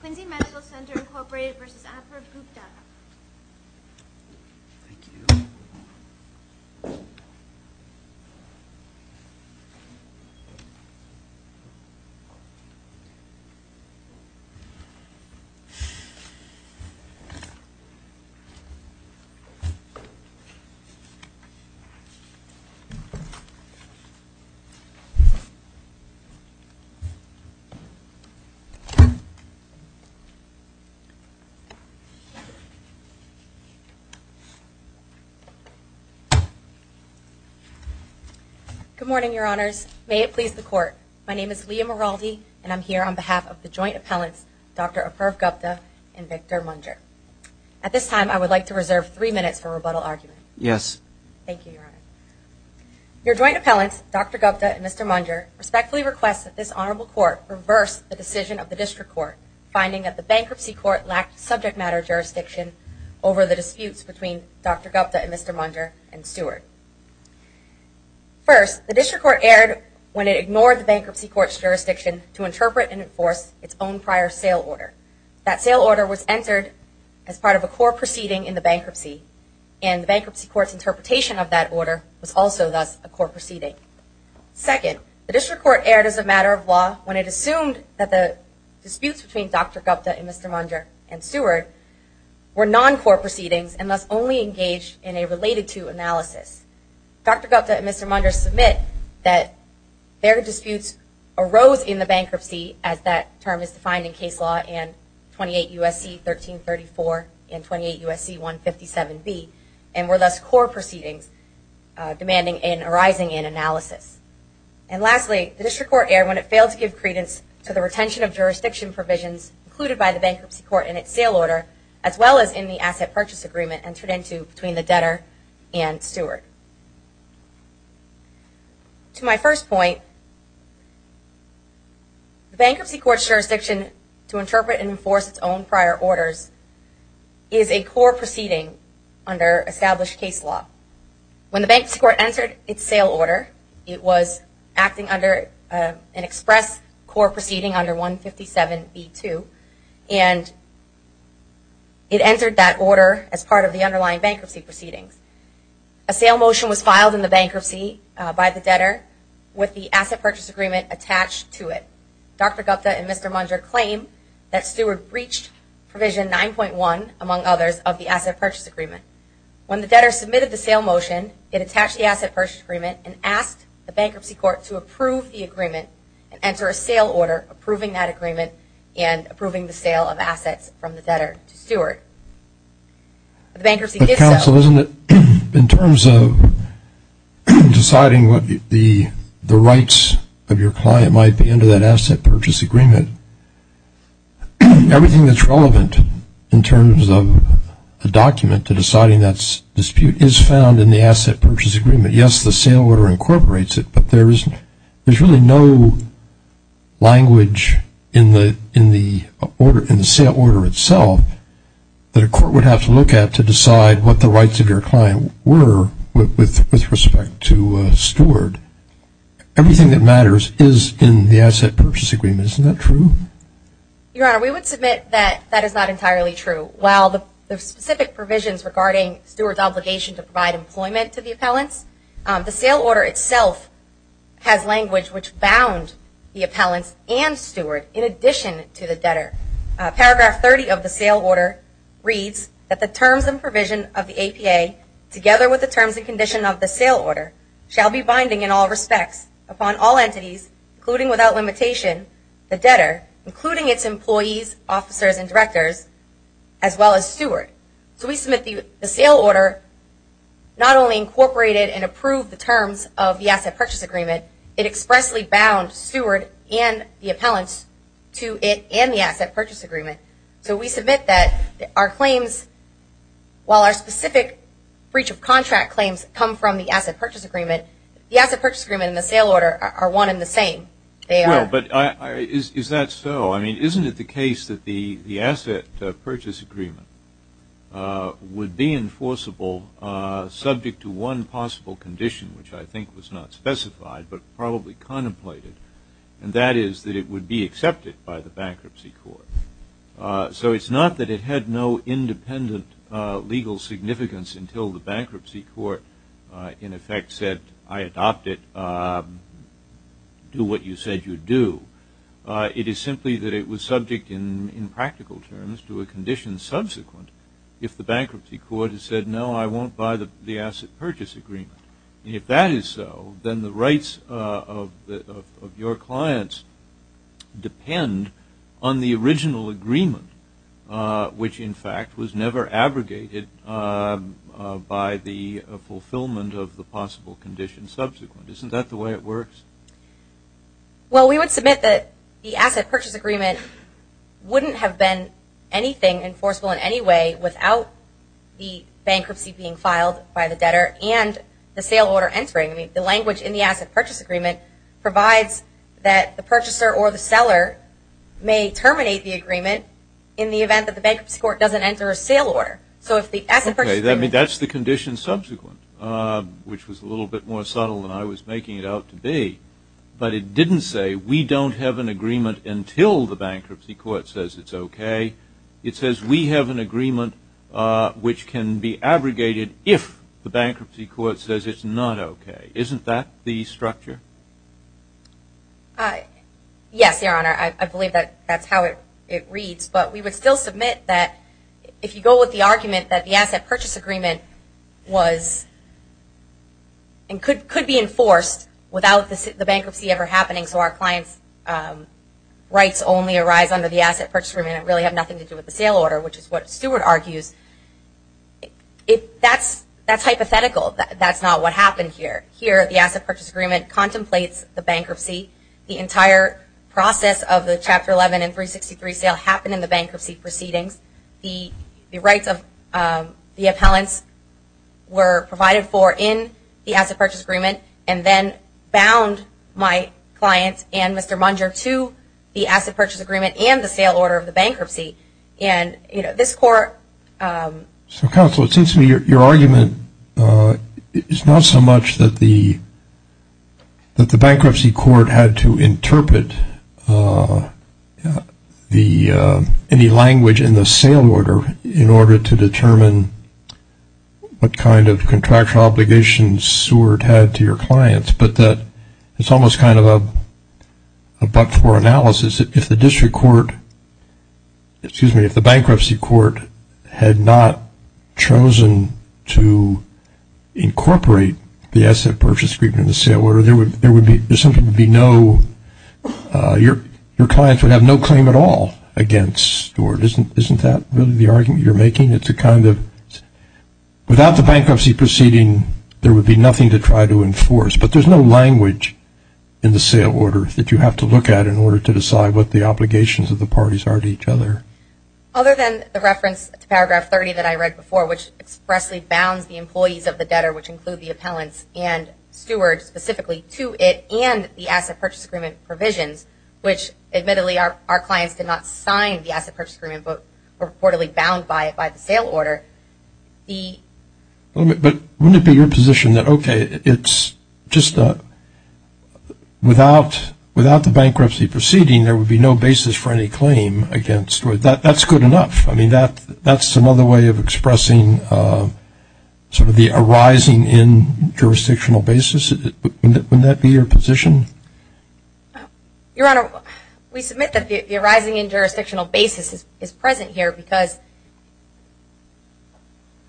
Quincy Medical Center Incorporated v. Adler v. Gupta Good morning, your honors. May it please the court. My name is Leah Miraldi, and I'm here on behalf of the joint appellants Dr. Aparv Gupta and Victor Munger. At this time, I would like to reserve three minutes for rebuttal argument. Yes. Thank you, your honor. Your joint appellants, Dr. Gupta and Mr. Munger, respectfully request that this honorable court reverse the decision of the district court, finding that the bankruptcy court lacked subject matter jurisdiction over the disputes between Dr. Gupta and Mr. Munger and Stewart. First, the district court erred when it ignored the bankruptcy court's jurisdiction to interpret and enforce its own prior sale order. That sale order was entered as part of a core proceeding in the bankruptcy, and the bankruptcy court's interpretation of that order was also thus a core proceeding. Second, the district court erred as a matter of law when it assumed that the disputes between Dr. Gupta and Mr. Munger and Stewart were non-core proceedings and thus only engaged in a related-to analysis. Dr. Gupta and Mr. Munger submit that their disputes arose in the bankruptcy as that term is defined in case law in 28 U.S.C. 1334 and were thus core proceedings demanding an arising in analysis. And lastly, the district court erred when it failed to give credence to the retention of jurisdiction provisions included by the bankruptcy court in its sale order as well as in the asset purchase agreement entered into between the debtor and Stewart. To my first point, the bankruptcy court's established case law. When the bankruptcy court entered its sale order, it was acting under an express core proceeding under 157B2, and it entered that order as part of the underlying bankruptcy proceedings. A sale motion was filed in the bankruptcy by the debtor with the asset purchase agreement attached to it. Dr. Gupta and Mr. Munger claim that Stewart breached provision 9.1, among others, of the asset purchase agreement. When the debtor submitted the sale motion, it attached the asset purchase agreement and asked the bankruptcy court to approve the agreement and enter a sale order approving that agreement and approving the sale of assets from the debtor to Stewart. The bankruptcy did so. But counsel, isn't it, in terms of deciding what the rights of your client might be under that asset purchase agreement, everything that's relevant in terms of a document to deciding that dispute is found in the asset purchase agreement. Yes, the sale order incorporates it, but there's really no language in the sale order itself that a court would have to look at to decide what the rights of your client were with respect to Stewart. Everything that matters is in the asset purchase agreement. Isn't that true? Your Honor, we would submit that that is not entirely true. While the specific provisions regarding Stewart's obligation to provide employment to the appellants, the sale order itself has language which bound the appellants and Stewart in addition to the debtor. Paragraph 30 of the sale order reads that the terms and provision of the APA, together with the terms and condition of the sale order, shall be binding in all respects upon all entities, including without limitation, the debtor, including its employees, officers, and directors, as well as Stewart. So we submit the sale order not only incorporated and approved the terms of the asset purchase agreement, it expressly bound Stewart and the appellants to it and the asset purchase agreement. So we submit that our claims, while our specific breach of contract claims come from the asset purchase agreement, the asset purchase agreement and the sale order are one and the same. Well, but is that so? I mean, isn't it the case that the asset purchase agreement would be enforceable subject to one possible condition, which I think was not specified, but probably contemplated, and that is that it would be accepted by the bankruptcy court. So it's not that it had no independent legal significance until the bankruptcy court, in effect, said, I adopt it, do what you said you'd do. It is simply that it was subject, in practical terms, to a condition subsequent if the bankruptcy court had said, no, I won't buy the asset purchase agreement. And if that is so, then the rights of your clients depend on the original agreement, which, in fact, was never abrogated by the fulfillment of the possible condition subsequent. Isn't that the way it works? Well, we would submit that the asset purchase agreement wouldn't have been anything enforceable in any way without the bankruptcy being filed by the debtor and the sale order entering. I mean, the language in the asset purchase agreement provides that the purchaser or the seller may terminate the agreement in the event that the bankruptcy court doesn't enter a sale order. So if the asset purchase agreement- Okay, I mean, that's the condition subsequent, which was a little bit more subtle than I was making it out to be. But it didn't say, we don't have an agreement until the bankruptcy court says it's okay. It says, we have an agreement which can be abrogated if the bankruptcy court says it's not okay. Isn't that the structure? Yes, Your Honor. I believe that that's how it reads. But we would still submit that if you go with the argument that the asset purchase agreement was and could be enforced without the bankruptcy ever happening, so our client's rights only arise under the asset purchase agreement and really have nothing to do with the sale order, which is what Stewart argues. That's hypothetical. That's not what happened here. Here, the asset purchase agreement contemplates the bankruptcy. The entire process of the Chapter 11 and 363 sale happened in the bankruptcy proceedings. The rights of the appellants were provided for in the asset purchase agreement and then bound my client and Mr. Munger to the asset purchase agreement and the sale order of the bankruptcy. And this court- So counsel, it seems to me your argument is not so much that the bankruptcy court had to interpret the sale order of the bankruptcy court in the language in the sale order in order to determine what kind of contractual obligations Stewart had to your clients, but that it's almost kind of a but-for analysis if the district court, excuse me, if the bankruptcy court had not chosen to incorporate the asset purchase agreement in the sale order, there would be, there simply would be no, your clients would have no claim at all against Stewart. Isn't that really the argument you're making? It's a kind of, without the bankruptcy proceeding, there would be nothing to try to enforce, but there's no language in the sale order that you have to look at in order to decide what the obligations of the parties are to each other. Other than the reference to paragraph 30 that I read before, which expressly bounds the employees of the debtor, which include the appellants and Stewart specifically to it which admittedly our clients did not sign the asset purchase agreement, but reportedly bound by the sale order, the But wouldn't it be your position that, okay, it's just a, without the bankruptcy proceeding, there would be no basis for any claim against Stewart. That's good enough. I mean, that's another way of expressing sort of the arising in jurisdictional basis. Wouldn't that be your position? Your Honor, we submit that the arising in jurisdictional basis is present here because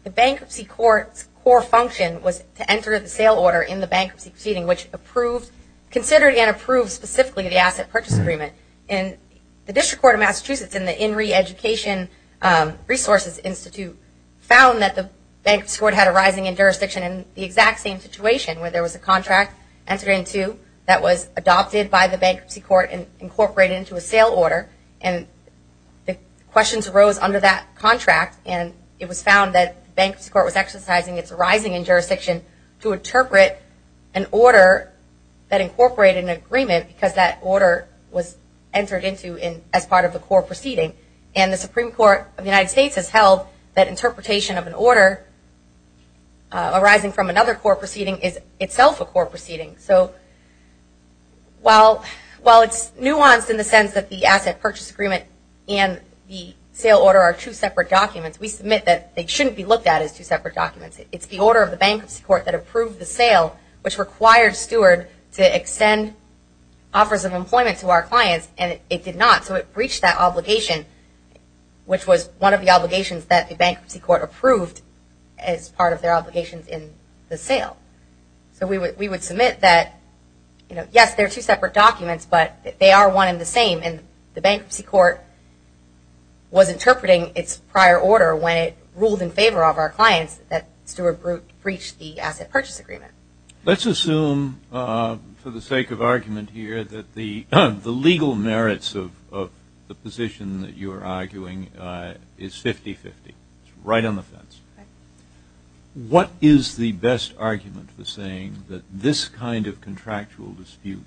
the bankruptcy court's core function was to enter the sale order in the bankruptcy proceeding which approved, considered and approved specifically the asset purchase agreement. And the District Court of Massachusetts in the INRI Education Resources Institute found that the bankruptcy court had a rising in jurisdiction in the exact same situation where there was a contract entered into that was adopted by the bankruptcy court and incorporated into a sale order and the questions arose under that contract and it was found that the bankruptcy court was exercising its rising in jurisdiction to interpret an order that incorporated an agreement because that order was entered into as part of the core proceeding. And the Supreme Court of the United States has held that interpretation of an order arising from another core proceeding is itself a core proceeding. So while it's nuanced in the sense that the asset purchase agreement and the sale order are two separate documents, we submit that they shouldn't be looked at as two separate documents. It's the order of the bankruptcy court that approved the sale which required Stewart to extend offers of employment to our clients and it did not. So it breached that obligation which was one of the obligations that the bankruptcy court approved as part of their obligations in the sale. So we would submit that yes, they're two separate documents but they are one and the same and the bankruptcy court was interpreting its prior order when it ruled in favor of our clients that Stewart Brecht breached the asset purchase agreement. Let's assume for the sake of argument here that the legal merits of the position that you are arguing is 50-50. It's right on the fence. What is the best argument for saying that this kind of contractual dispute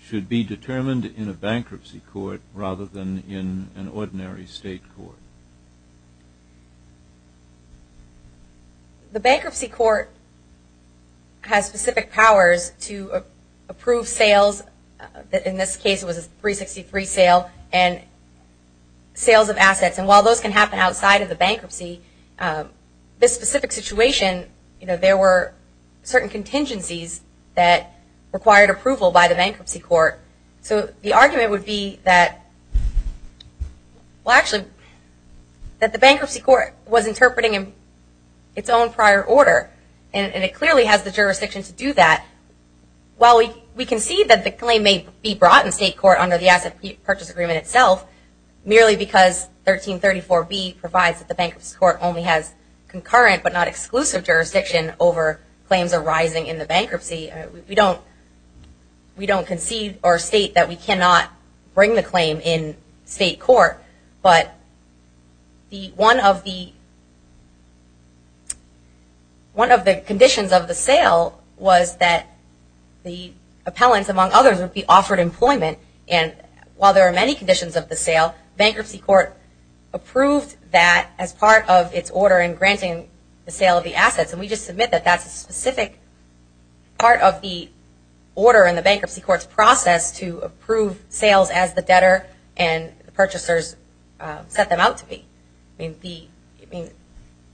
should be determined in a bankruptcy court rather than in an ordinary state court? The bankruptcy court has specific powers to approve sales, in this case it was a 363 sale, and sales of assets and while those can happen outside of the bankruptcy, this specific situation, there were certain contingencies that required approval by the bankruptcy court. So the argument would be that, well actually, that the bankruptcy court was interpreting its own prior order and it clearly has the jurisdiction to do that. While we concede that the claim may be brought in state court under the asset purchase agreement itself, merely because 1334B provides that the bankruptcy court only has concurrent but not exclusive jurisdiction over claims arising in the bankruptcy, we don't concede or state that we cannot bring the claim in state court. But one of the, one of the things that the bankruptcy court one of the conditions of the sale was that the appellants among others would be offered employment and while there are many conditions of the sale, bankruptcy court approved that as part of its order in granting the sale of the assets and we just submit that that's a specific part of the order in the bankruptcy court's process to approve sales as the debtor and the purchasers set them out to be.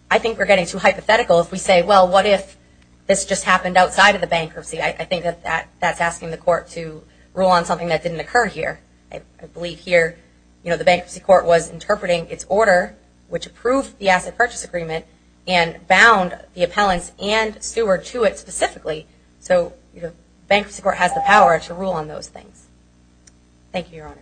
I think we're getting too hypothetical if we say well what if this just happened outside of the bankruptcy. I think that that's asking the court to rule on something that didn't occur here. I believe here, you know, the bankruptcy court was interpreting its order which approved the asset purchase agreement and bound the appellants and steward to it specifically. So bankruptcy court has the power to rule on those things. Thank you, Your Honors.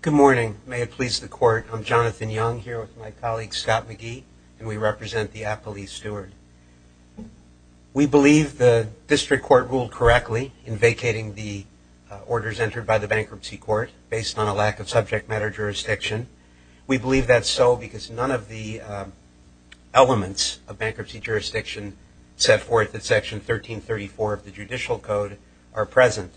Good morning. May it please the court, I'm Jonathan Young here with my colleague Scott McGee and we represent the Appellee Steward. We believe the district court ruled correctly in vacating the orders entered by the bankruptcy court based on a lack of subject matter jurisdiction. We believe that's so because none of the elements of bankruptcy jurisdiction set forth in section 1334 of the judicial code are present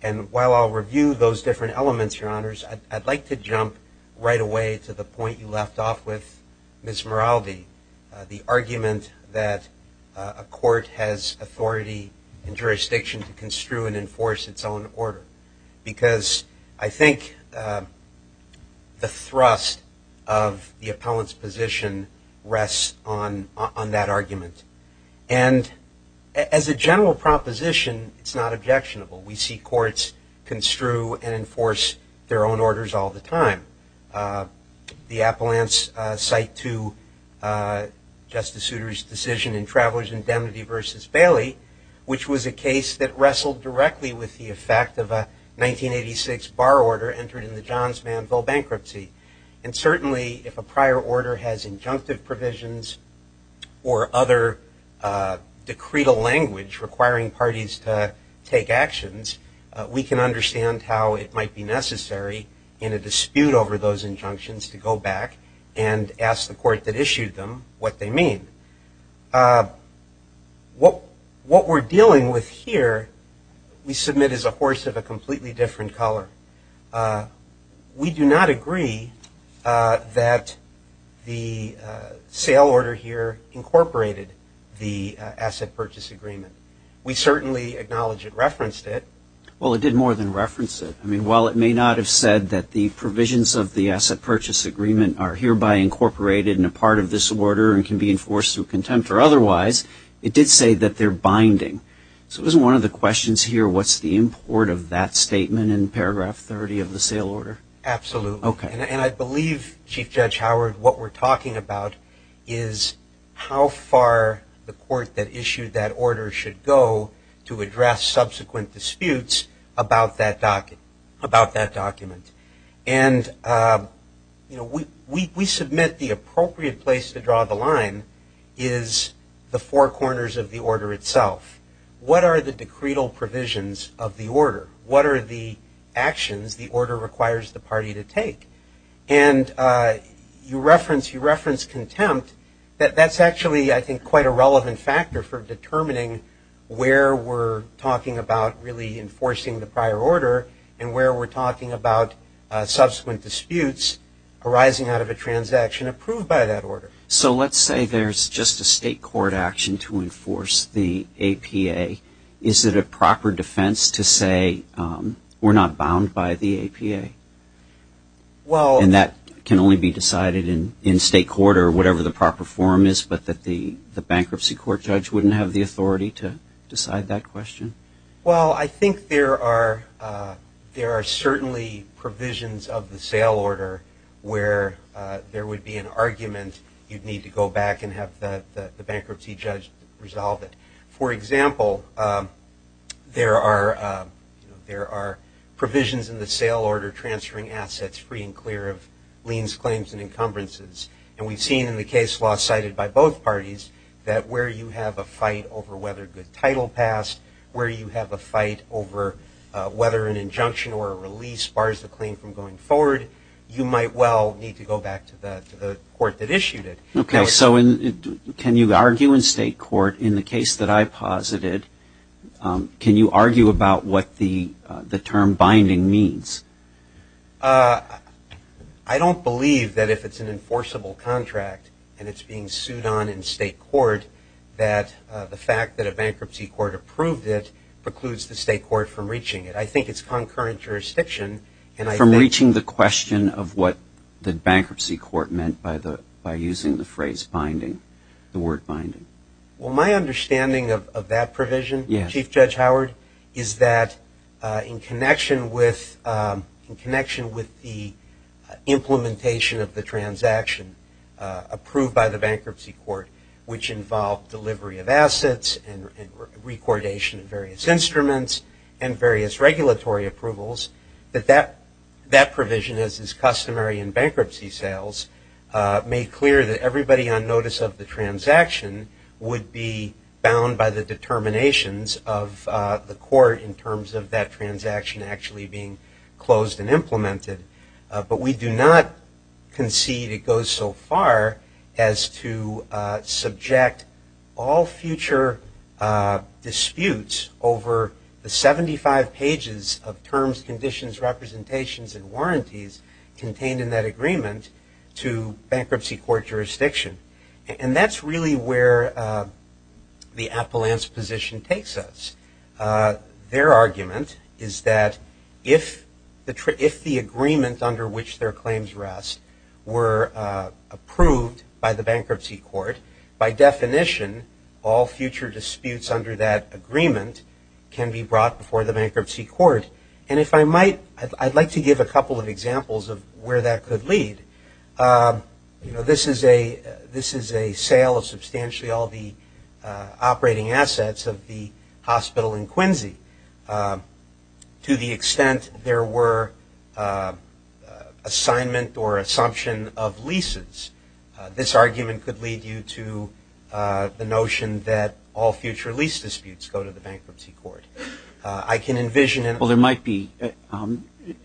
and while I'll review those different elements, Your Honors, I'd like to jump right away to the point you left off with Ms. Moraldi, the appellants construe and enforce its own order because I think the thrust of the appellant's position rests on that argument and as a general proposition, it's not objectionable. We see courts construe and enforce their own orders all the time. The appellants cite to Justice Moraldi that they were not controlled directly with the effect of a 1986 bar order entered in the Johns Manville bankruptcy and certainly if a prior order has injunctive provisions or other decretal language requiring parties to take action, we can understand how it might be necessary in a dispute over those injunctions to go back and ask the court that issued them what they mean. What we're dealing with here, we submit as a horse of a completely different color. We do not agree that the sale order here incorporated the asset purchase agreement. We certainly acknowledge it referenced it. Well, it did more than reference it. I mean, while it may not have said that the provisions of the asset purchase agreement are hereby incorporated in a part of this order and can be enforced through contempt or otherwise, it did say that they're binding. So it was one of the questions here, what's the import of that statement in paragraph 30 of the sale order? Absolutely. And I believe, Chief Judge Howard, what we're talking about is how far the court that issued that order should go to address subsequent disputes about that document. And we submit the appropriate place to draw the line is the four corners of the order itself. What are the decretal provisions of the order? What are the actions the order requires the party to take? And you reference contempt. That's actually, I think, quite a relevant factor for determining where we're talking about really enforcing the prior order and where we're talking about subsequent disputes arising out of a transaction approved by that order. So let's say there's just a state court action to enforce the APA. Is it a proper defense to say we're not bound by the APA? And that can only be decided in state court or whatever the proper form is, but that the bankruptcy court judge wouldn't have the authority to decide that question? Well, I think there are certainly provisions of the sale order where there would be an argument you'd need to go back and have the bankruptcy judge resolve it. For example, there are provisions in the sale order transferring assets free and clear of liens, claims, and encumbrances. And we've seen in the case law cited by both parties that where you have a fight over whether a good title passed, where you have a fight over whether an injunction or a release bars the claim from going forward, you might well need to go back to the court that issued it. Okay. So can you argue in state court in the case that I posited, can you argue about what the term binding means? I don't believe that if it's an enforceable contract and it's being sued on in state court that the fact that a bankruptcy court approved it precludes the state court from reaching it. I think it's concurrent jurisdiction and I think... From reaching the question of what the bankruptcy court meant by using the phrase binding, the word binding. Well, my understanding of that provision, Chief Judge Howard, is that in connection with the implementation of the transaction approved by the bankruptcy court, which involves delivery of assets and recordation of various instruments and various regulatory approvals, that that provision, as is customary in bankruptcy sales, made clear that everybody on notice of the transaction would be bound by the determinations of the court in terms of that transaction actually being closed and implemented. But we do not concede it goes so far as to subject all future disputes over the 75 pages of terms, conditions, representations, and warranties contained in that agreement to bankruptcy court jurisdiction. And that's really where the appellant's position takes us. Their argument is that if the agreement under which their claims rest were approved by the bankruptcy court, by definition all future disputes under that agreement can be brought before the bankruptcy court. And if I might, I'd like to give a couple of examples of where that could lead. You know, this is a sale of substantially all the operating assets of the hospital in Quincy. To the extent there were assignment or assumption of leases, this argument could lead you to the notion that all future lease disputes go to the bankruptcy court. I can envision it. Well, there might be an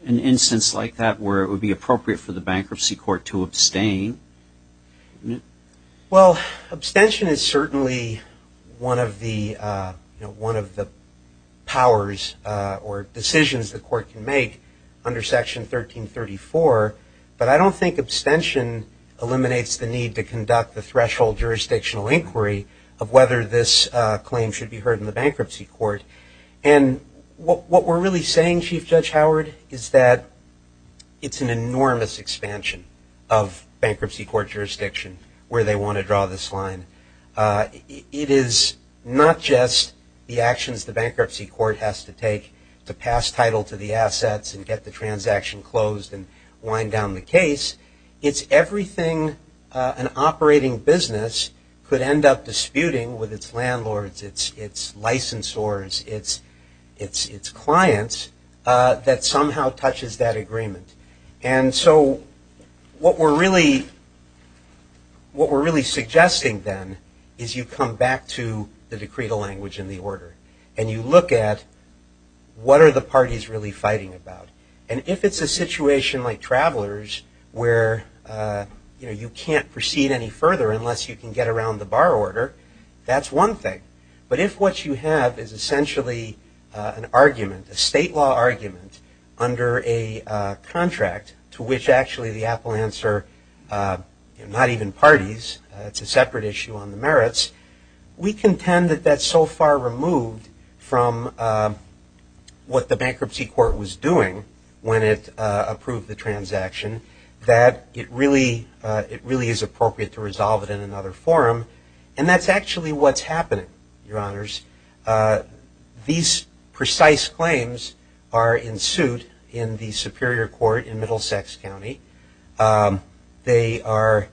instance like that where it would be appropriate for the bankruptcy court to abstain. Well, abstention is certainly one of the powers or decisions the court can make under Section 1334, but I don't think abstention eliminates the need to conduct the threshold jurisdictional inquiry of whether this claim should be heard in the bankruptcy court. And what we're really saying, Chief Judge Howard, is that it's an enormous expansion of bankruptcy court jurisdiction where they want to draw this line. It is not just the actions the bankruptcy court has to take to pass title to the assets and get the transaction closed and wind down the case. It's everything an operating business could end up disputing with its landlords, its licensors, its clients that somehow touches that agreement. And so what we're really suggesting then is you come back to the decretal language in the order and you look at what are the parties really fighting about. And if it's a situation like travelers where you can't proceed any further unless you can get around the bar order, that's one thing. But if what you have is essentially an argument, a state law argument under a contract to which actually the appellants are not even parties, it's a separate issue on the merits, we contend that that's so far removed from what the bankruptcy court was doing when it approved the transaction that it really is appropriate to resolve it in that way. And that's actually what's happening, Your Honors. These precise claims are in suit in the superior court in Middlesex County. They are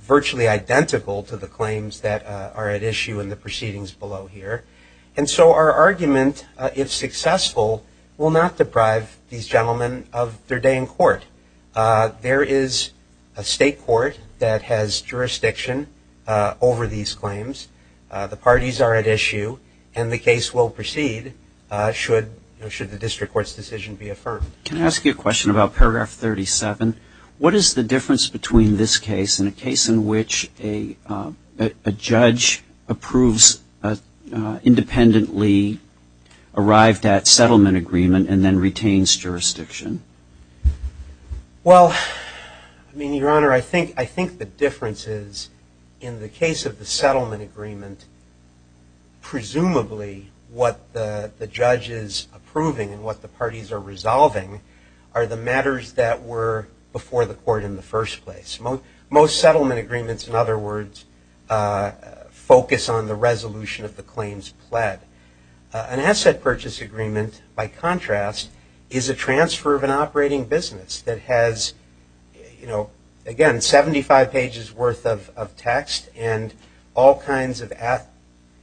virtually identical to the claims that are at issue in the proceedings below here. And so our argument, if successful, will not deprive these gentlemen of their day in court. There is a state court that has jurisdiction over these claims. The parties are at issue and the case will proceed should the district court's decision be affirmed. Can I ask you a question about paragraph 37? What is the difference between this case and a case in which a judge approves independently arrived at settlement agreement and then retains jurisdiction? Well, Your Honor, I think the differences in the case of the settlement agreement, presumably what the judge is approving and what the parties are resolving are the matters that were before the court in the first place. Most settlement agreements, in other words, focus on the resolution of the claims pled. An asset purchase agreement, by contrast, is a transfer of an operating business that has, again, 75 pages worth of text and all kinds of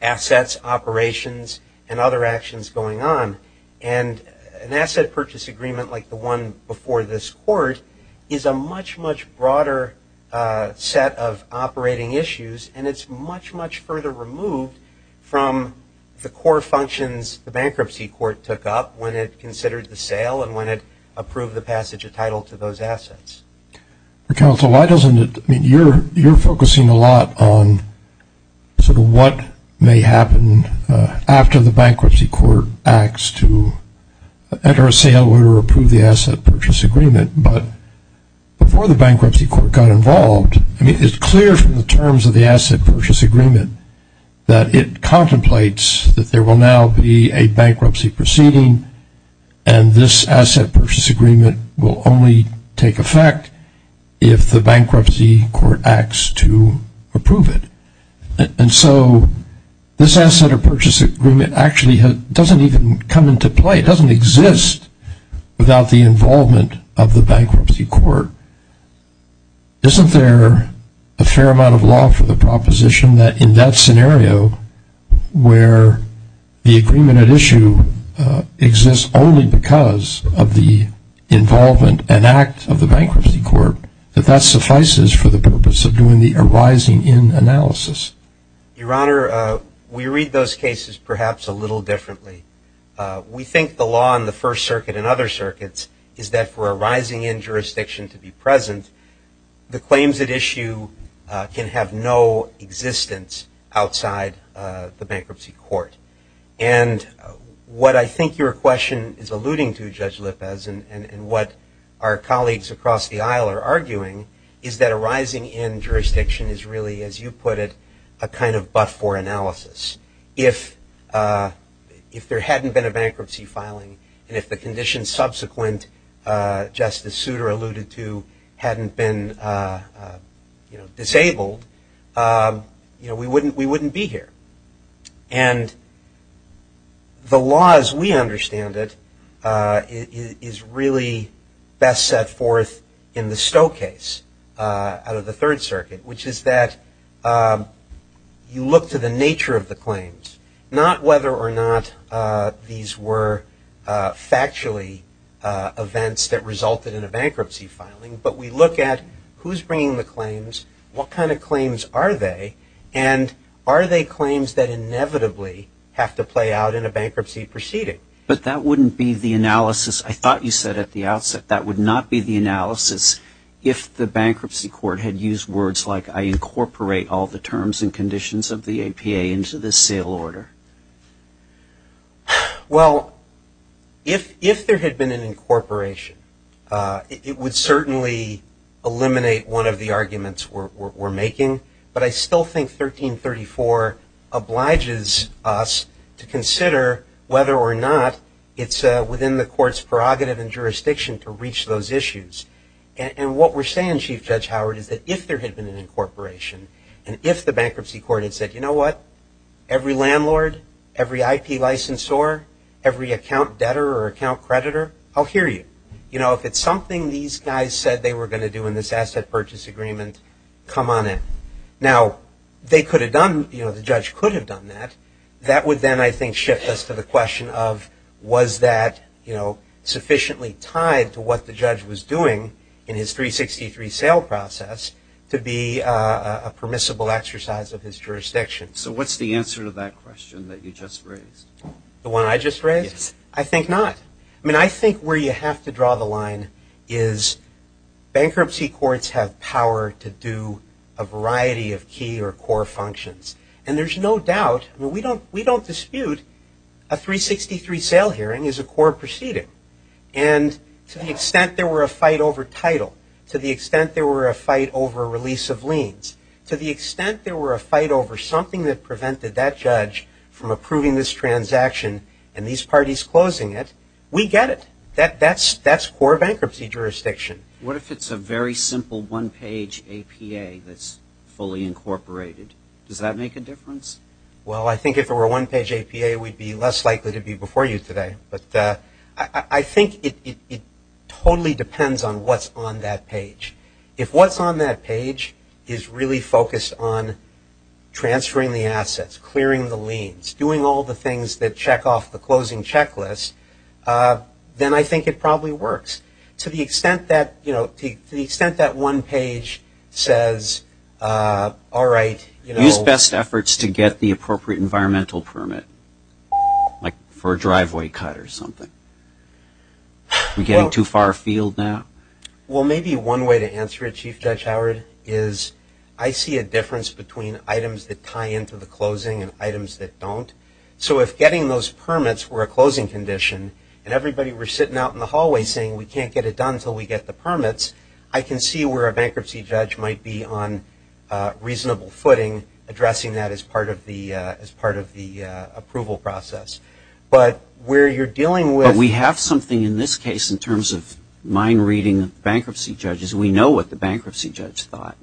assets, operations and other actions going on. And an asset purchase agreement like the one before this court is a much, much broader set of operating issues and it's much, much further removed from the core functions the bankruptcy court took up when it considered the sale and when it approved the passage of title to those assets. Counsel, why doesn't it, I mean, you're focusing a lot on sort of what may happen after the bankruptcy court acts to enter a sale or approve the asset purchase agreement, but before the bankruptcy court got involved, it's clear from the terms of the asset purchase agreement that it contemplates that there will now be a bankruptcy proceeding and this asset purchase agreement will only take effect if the bankruptcy court acts to approve it. And so this asset or purchase agreement actually doesn't even come into play, it doesn't exist without the involvement of the bankruptcy court. Isn't there a fair amount of law for the proposition that in that scenario where the agreement at issue exists only because of the involvement and act of the bankruptcy court, that that suffices for the purpose of doing the arising in analysis? Your Honor, we read those cases perhaps a little differently. We think the law in the First Circuit and other circuits is that for a rising in jurisdiction to be present, the claims at issue can have no existence outside the bankruptcy court. And what I think your question is alluding to, Judge Lippes, and what our colleagues across the aisle are arguing is that a rising in jurisdiction is really, as you put it, a kind of but-for analysis. If there hadn't been a bankruptcy filing and if the conditions subsequent Justice Souter alluded to hadn't been disabled, we wouldn't be here. And the law as we understand it is really best set forth in the stow case out of the Third Circuit, which is that you look to the nature of the claims, not whether or not these were factually events that resulted in a bankruptcy filing, but we look at who's bringing the claims, what kind of claims are they, and are they claims that inevitably have to play out in a bankruptcy proceeding. But that wouldn't be the analysis I thought you said at the outset. That would not be the analysis if the bankruptcy court had used words like, I incorporate all the terms and conditions of the APA into this sale order. Well, if there had been an incorporation, it would certainly eliminate one of the arguments we're making, but I still think 1334 obliges us to consider whether or not it's within the court's prerogative and jurisdiction to reach those issues. And what we're saying, Chief Judge Howard, is that if there had been an incorporation and if the bankruptcy court had said, you know what, every landlord, every IP licensor, every account debtor or account creditor, I'll hear you. If it's something these guys said they were going to do in this asset purchase agreement, come on in. Now, the judge could have done that. That would then, I think, shift us to the question of was that sufficiently tied to what the judge was doing in his 363 sale process to be a permissible exercise of his jurisdiction. So what's the answer to that question that you just raised? The one I just raised? Yes. I think not. I mean, I think where you have to draw the line is bankruptcy courts have power to do a variety of key or core functions. And there's no doubt, I mean, we don't dispute a 363 sale hearing is a core proceeding. And to the extent there were a fight over title, to the extent there were a fight over release of liens, to the extent there were a fight over something that prevented that judge from approving this transaction and these parties closing it, we get it. That's core bankruptcy jurisdiction. What if it's a very simple one-page APA that's fully incorporated? Does that make a difference? Well, I think if it were a one-page APA, we'd be less likely to be before you today. But I think it totally depends on what's on that page. If what's on that page is really focused on transferring the assets, clearing the liens, doing all the things that check off the closing checklist, then I think it probably works. To the extent that, you know, to the extent that one page says, all right, you know – Use best efforts to get the appropriate environmental permit, like for a driveway cut or something. Are we getting too far afield now? Well, maybe one way to answer it, Chief Judge Howard, is I see a difference between items that tie into the closing and items that don't. So if getting those permits were a closing condition and everybody were sitting out in the hallway saying we can't get it done until we get the permits, I can see where a bankruptcy judge might be on reasonable footing addressing that as part of the approval process. But where you're dealing with – We have something in this case in terms of mind-reading bankruptcy judges. We know what the bankruptcy judge thought.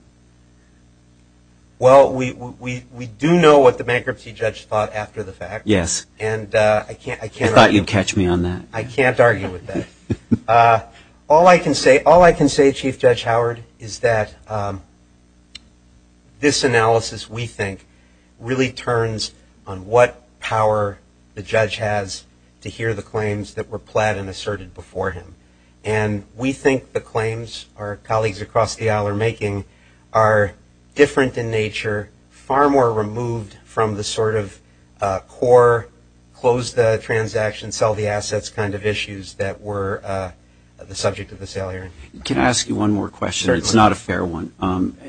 Well, we do know what the bankruptcy judge thought after the fact. Yes. And I can't argue – I thought you'd catch me on that. I can't argue with that. All I can say, Chief Judge Howard, is that this analysis, we think, really turns on what power the judge has to hear the claims that were pled and asserted before him. And we think the claims our colleagues across the aisle are making are different in nature, far more removed from the sort of core close the transaction, sell the assets kind of issues that were the subject of the sale hearing. Can I ask you one more question? It's not a fair one.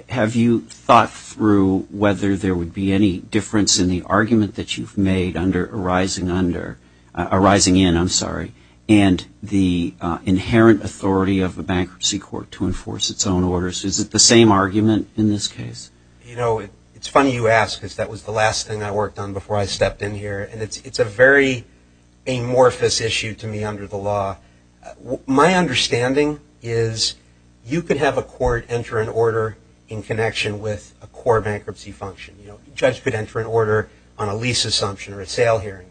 Have you thought through whether there would be any difference in the argument that you've made under arising under – arising in, I'm sorry, and the inherent authority of the bankruptcy court to enforce its own orders? Is it the same argument in this case? You know, it's funny you ask because that was the last thing I worked on before I stepped in here. And it's a very amorphous issue to me under the law. My understanding is you could have a court enter an order in connection with a core bankruptcy function. You know, judge could enter an order on a lease assumption or a sale hearing.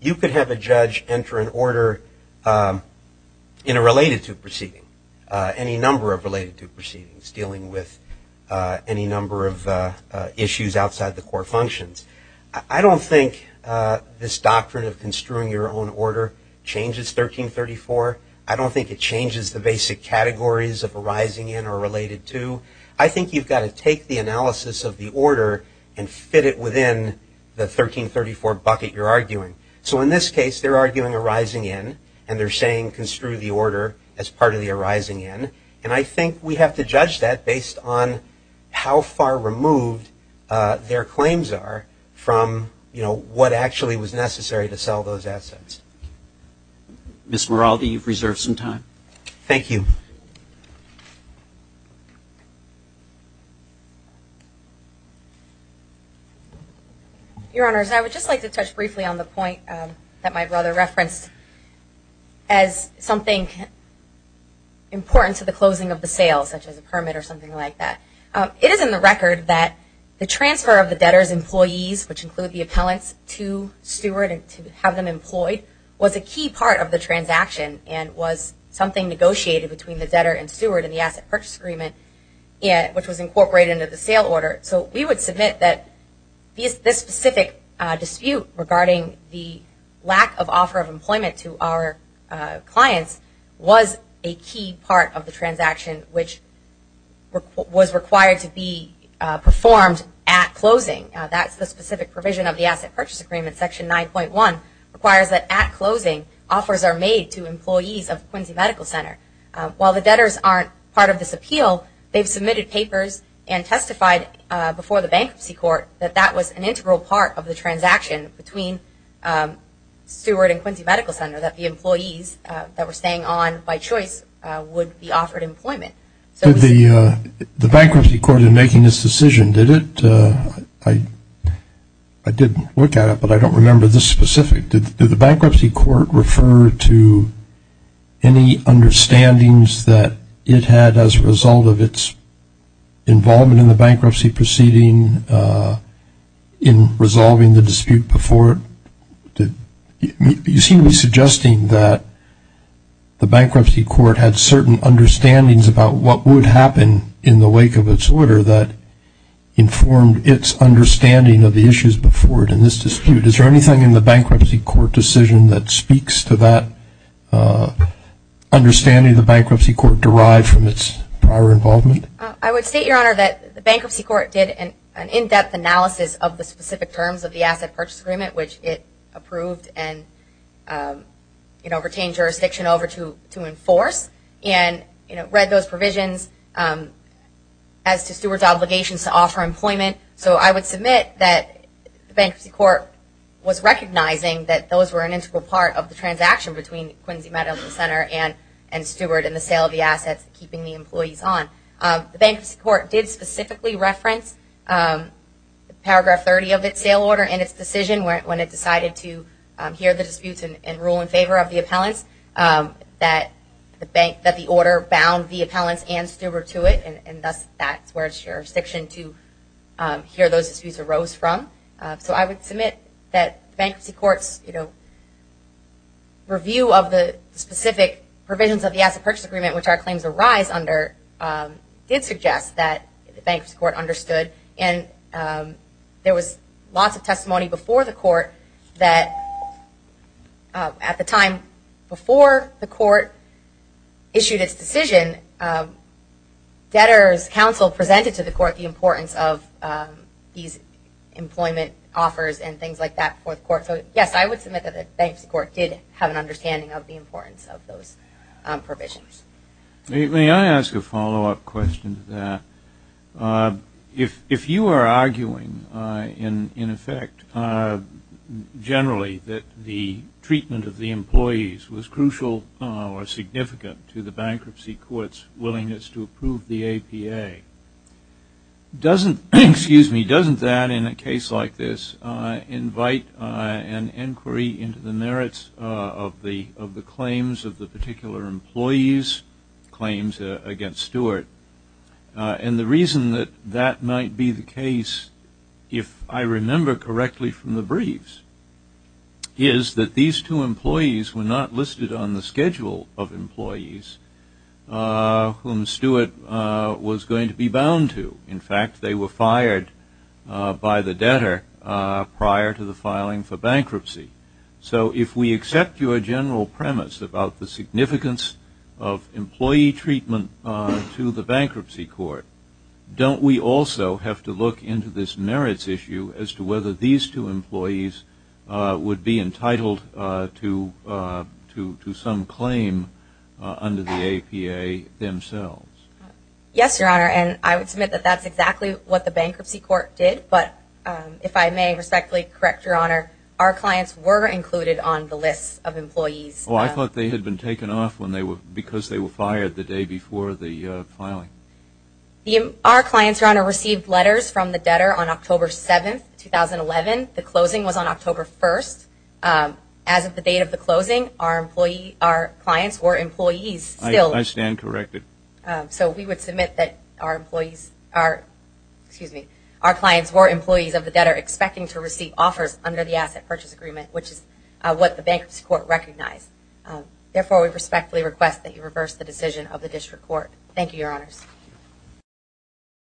You could have a judge enter an order in a related to proceeding, any number of related to proceedings dealing with any number of issues outside the core functions. I don't think this doctrine of construing your own order changes 1334. I don't think it changes the basic categories of arising in or related to. I think you've got to take the analysis of the order and fit it within the 1334 bucket you're arguing. So in this case they're arguing arising in and they're saying construe the order as part of the arising in. And I think we have to judge that based on how far removed their claims are from, you know, what actually was necessary to sell those assets. Ms. Moraldi, you've reserved some time. Thank you. Your Honors, I would just like to touch briefly on the point that my brother referenced as something important to the closing of the sales, such as a permit or something like that. It is in the record that the transfer of the debtor's employees, which include the appellants, to Steward and to have them employed was a key part of the transaction and was something negotiated between the debtor and Steward in the Asset Purchase Agreement, which was incorporated into the sale order. So we would submit that this specific dispute regarding the lack of offer of employment to our clients was a key part of the transaction which was required to be performed at closing. That's the specific provision of the Asset Purchase Agreement, Section 9.1, requires that at closing offers are made to employees of Quincy Medical Center. While the debtors aren't part of this appeal, they've submitted papers and testified before the Bankruptcy Court that that was an integral part of the agreement between Steward and Quincy Medical Center, that the employees that were staying on by choice would be offered employment. Did the Bankruptcy Court in making this decision, did it, I didn't look at it, but I don't remember this specific, did the Bankruptcy Court refer to any understandings that it had as a result of its involvement in the bankruptcy proceeding in resolving the dispute before it? You seem to be suggesting that the Bankruptcy Court had certain understandings about what would happen in the wake of its order that informed its understanding of the issues before it in this dispute. Is there anything in the Bankruptcy Court decision that speaks to that understanding the Bankruptcy Court derived from its prior involvement? I would state, Your Honor, that the Bankruptcy Court did an in-depth analysis of the specific terms of the Asset Purchase Agreement, which it approved and, you know, retained jurisdiction over to enforce and, you know, read those provisions as to Steward's obligations to offer employment. So I would submit that the Bankruptcy Court was recognizing that those were an integral part of the transaction between Quincy Medical Center and Steward in the sale of the assets, keeping the employees on. The Bankruptcy Court did specifically reference Paragraph 30 of its sale order and its decision when it decided to hear the disputes and rule in favor of the appellants, that the order bound the appellants and Steward to it, and thus that's where its jurisdiction to hear those disputes arose from. So I would submit that the Bankruptcy Court's, you know, review of the specific provisions of the Asset Purchase Agreement, which our claims arise under, did suggest that the Bankruptcy Court understood and there was lots of testimony before the Court that, at the time before the Court issued its decision, debtors counsel presented to the Court the importance of these and things like that before the Court. So, yes, I would submit that the Bankruptcy Court did have an understanding of the importance of those provisions. May I ask a follow-up question to that? If you are arguing, in effect, generally that the treatment of the employees was crucial or significant to the Bankruptcy Court's willingness to approve the APA, doesn't that, in a case like this, invite an inquiry into the merits of the claims of the particular employees, claims against Stewart? And the reason that that might be the case, if I remember correctly from the briefs, is that these two employees were not listed on the schedule of employees whom Stewart was going to be bound to. In fact, they were fired by the debtor prior to the filing for bankruptcy. So if we accept your general premise about the significance of employee treatment to the Bankruptcy Court, don't we also have to look into this merits issue as to whether these two employees would be entitled to some claim under the APA themselves? Yes, Your Honor, and I would submit that that's exactly what the Bankruptcy Court did, but if I may respectfully correct Your Honor, our clients were included on the list of employees. Oh, I thought they had been taken off because they were fired the day before the filing. Our clients, Your Honor, received letters from the debtor on October 7, 2011. The closing was on October 1. As of the date of the closing, our clients were employees of the debtor expecting to receive offers under the Asset Purchase Agreement, which is what the Bankruptcy Court recognized. Therefore, we respectfully request that you reverse the decision of the District Court. Thank you, Your Honors.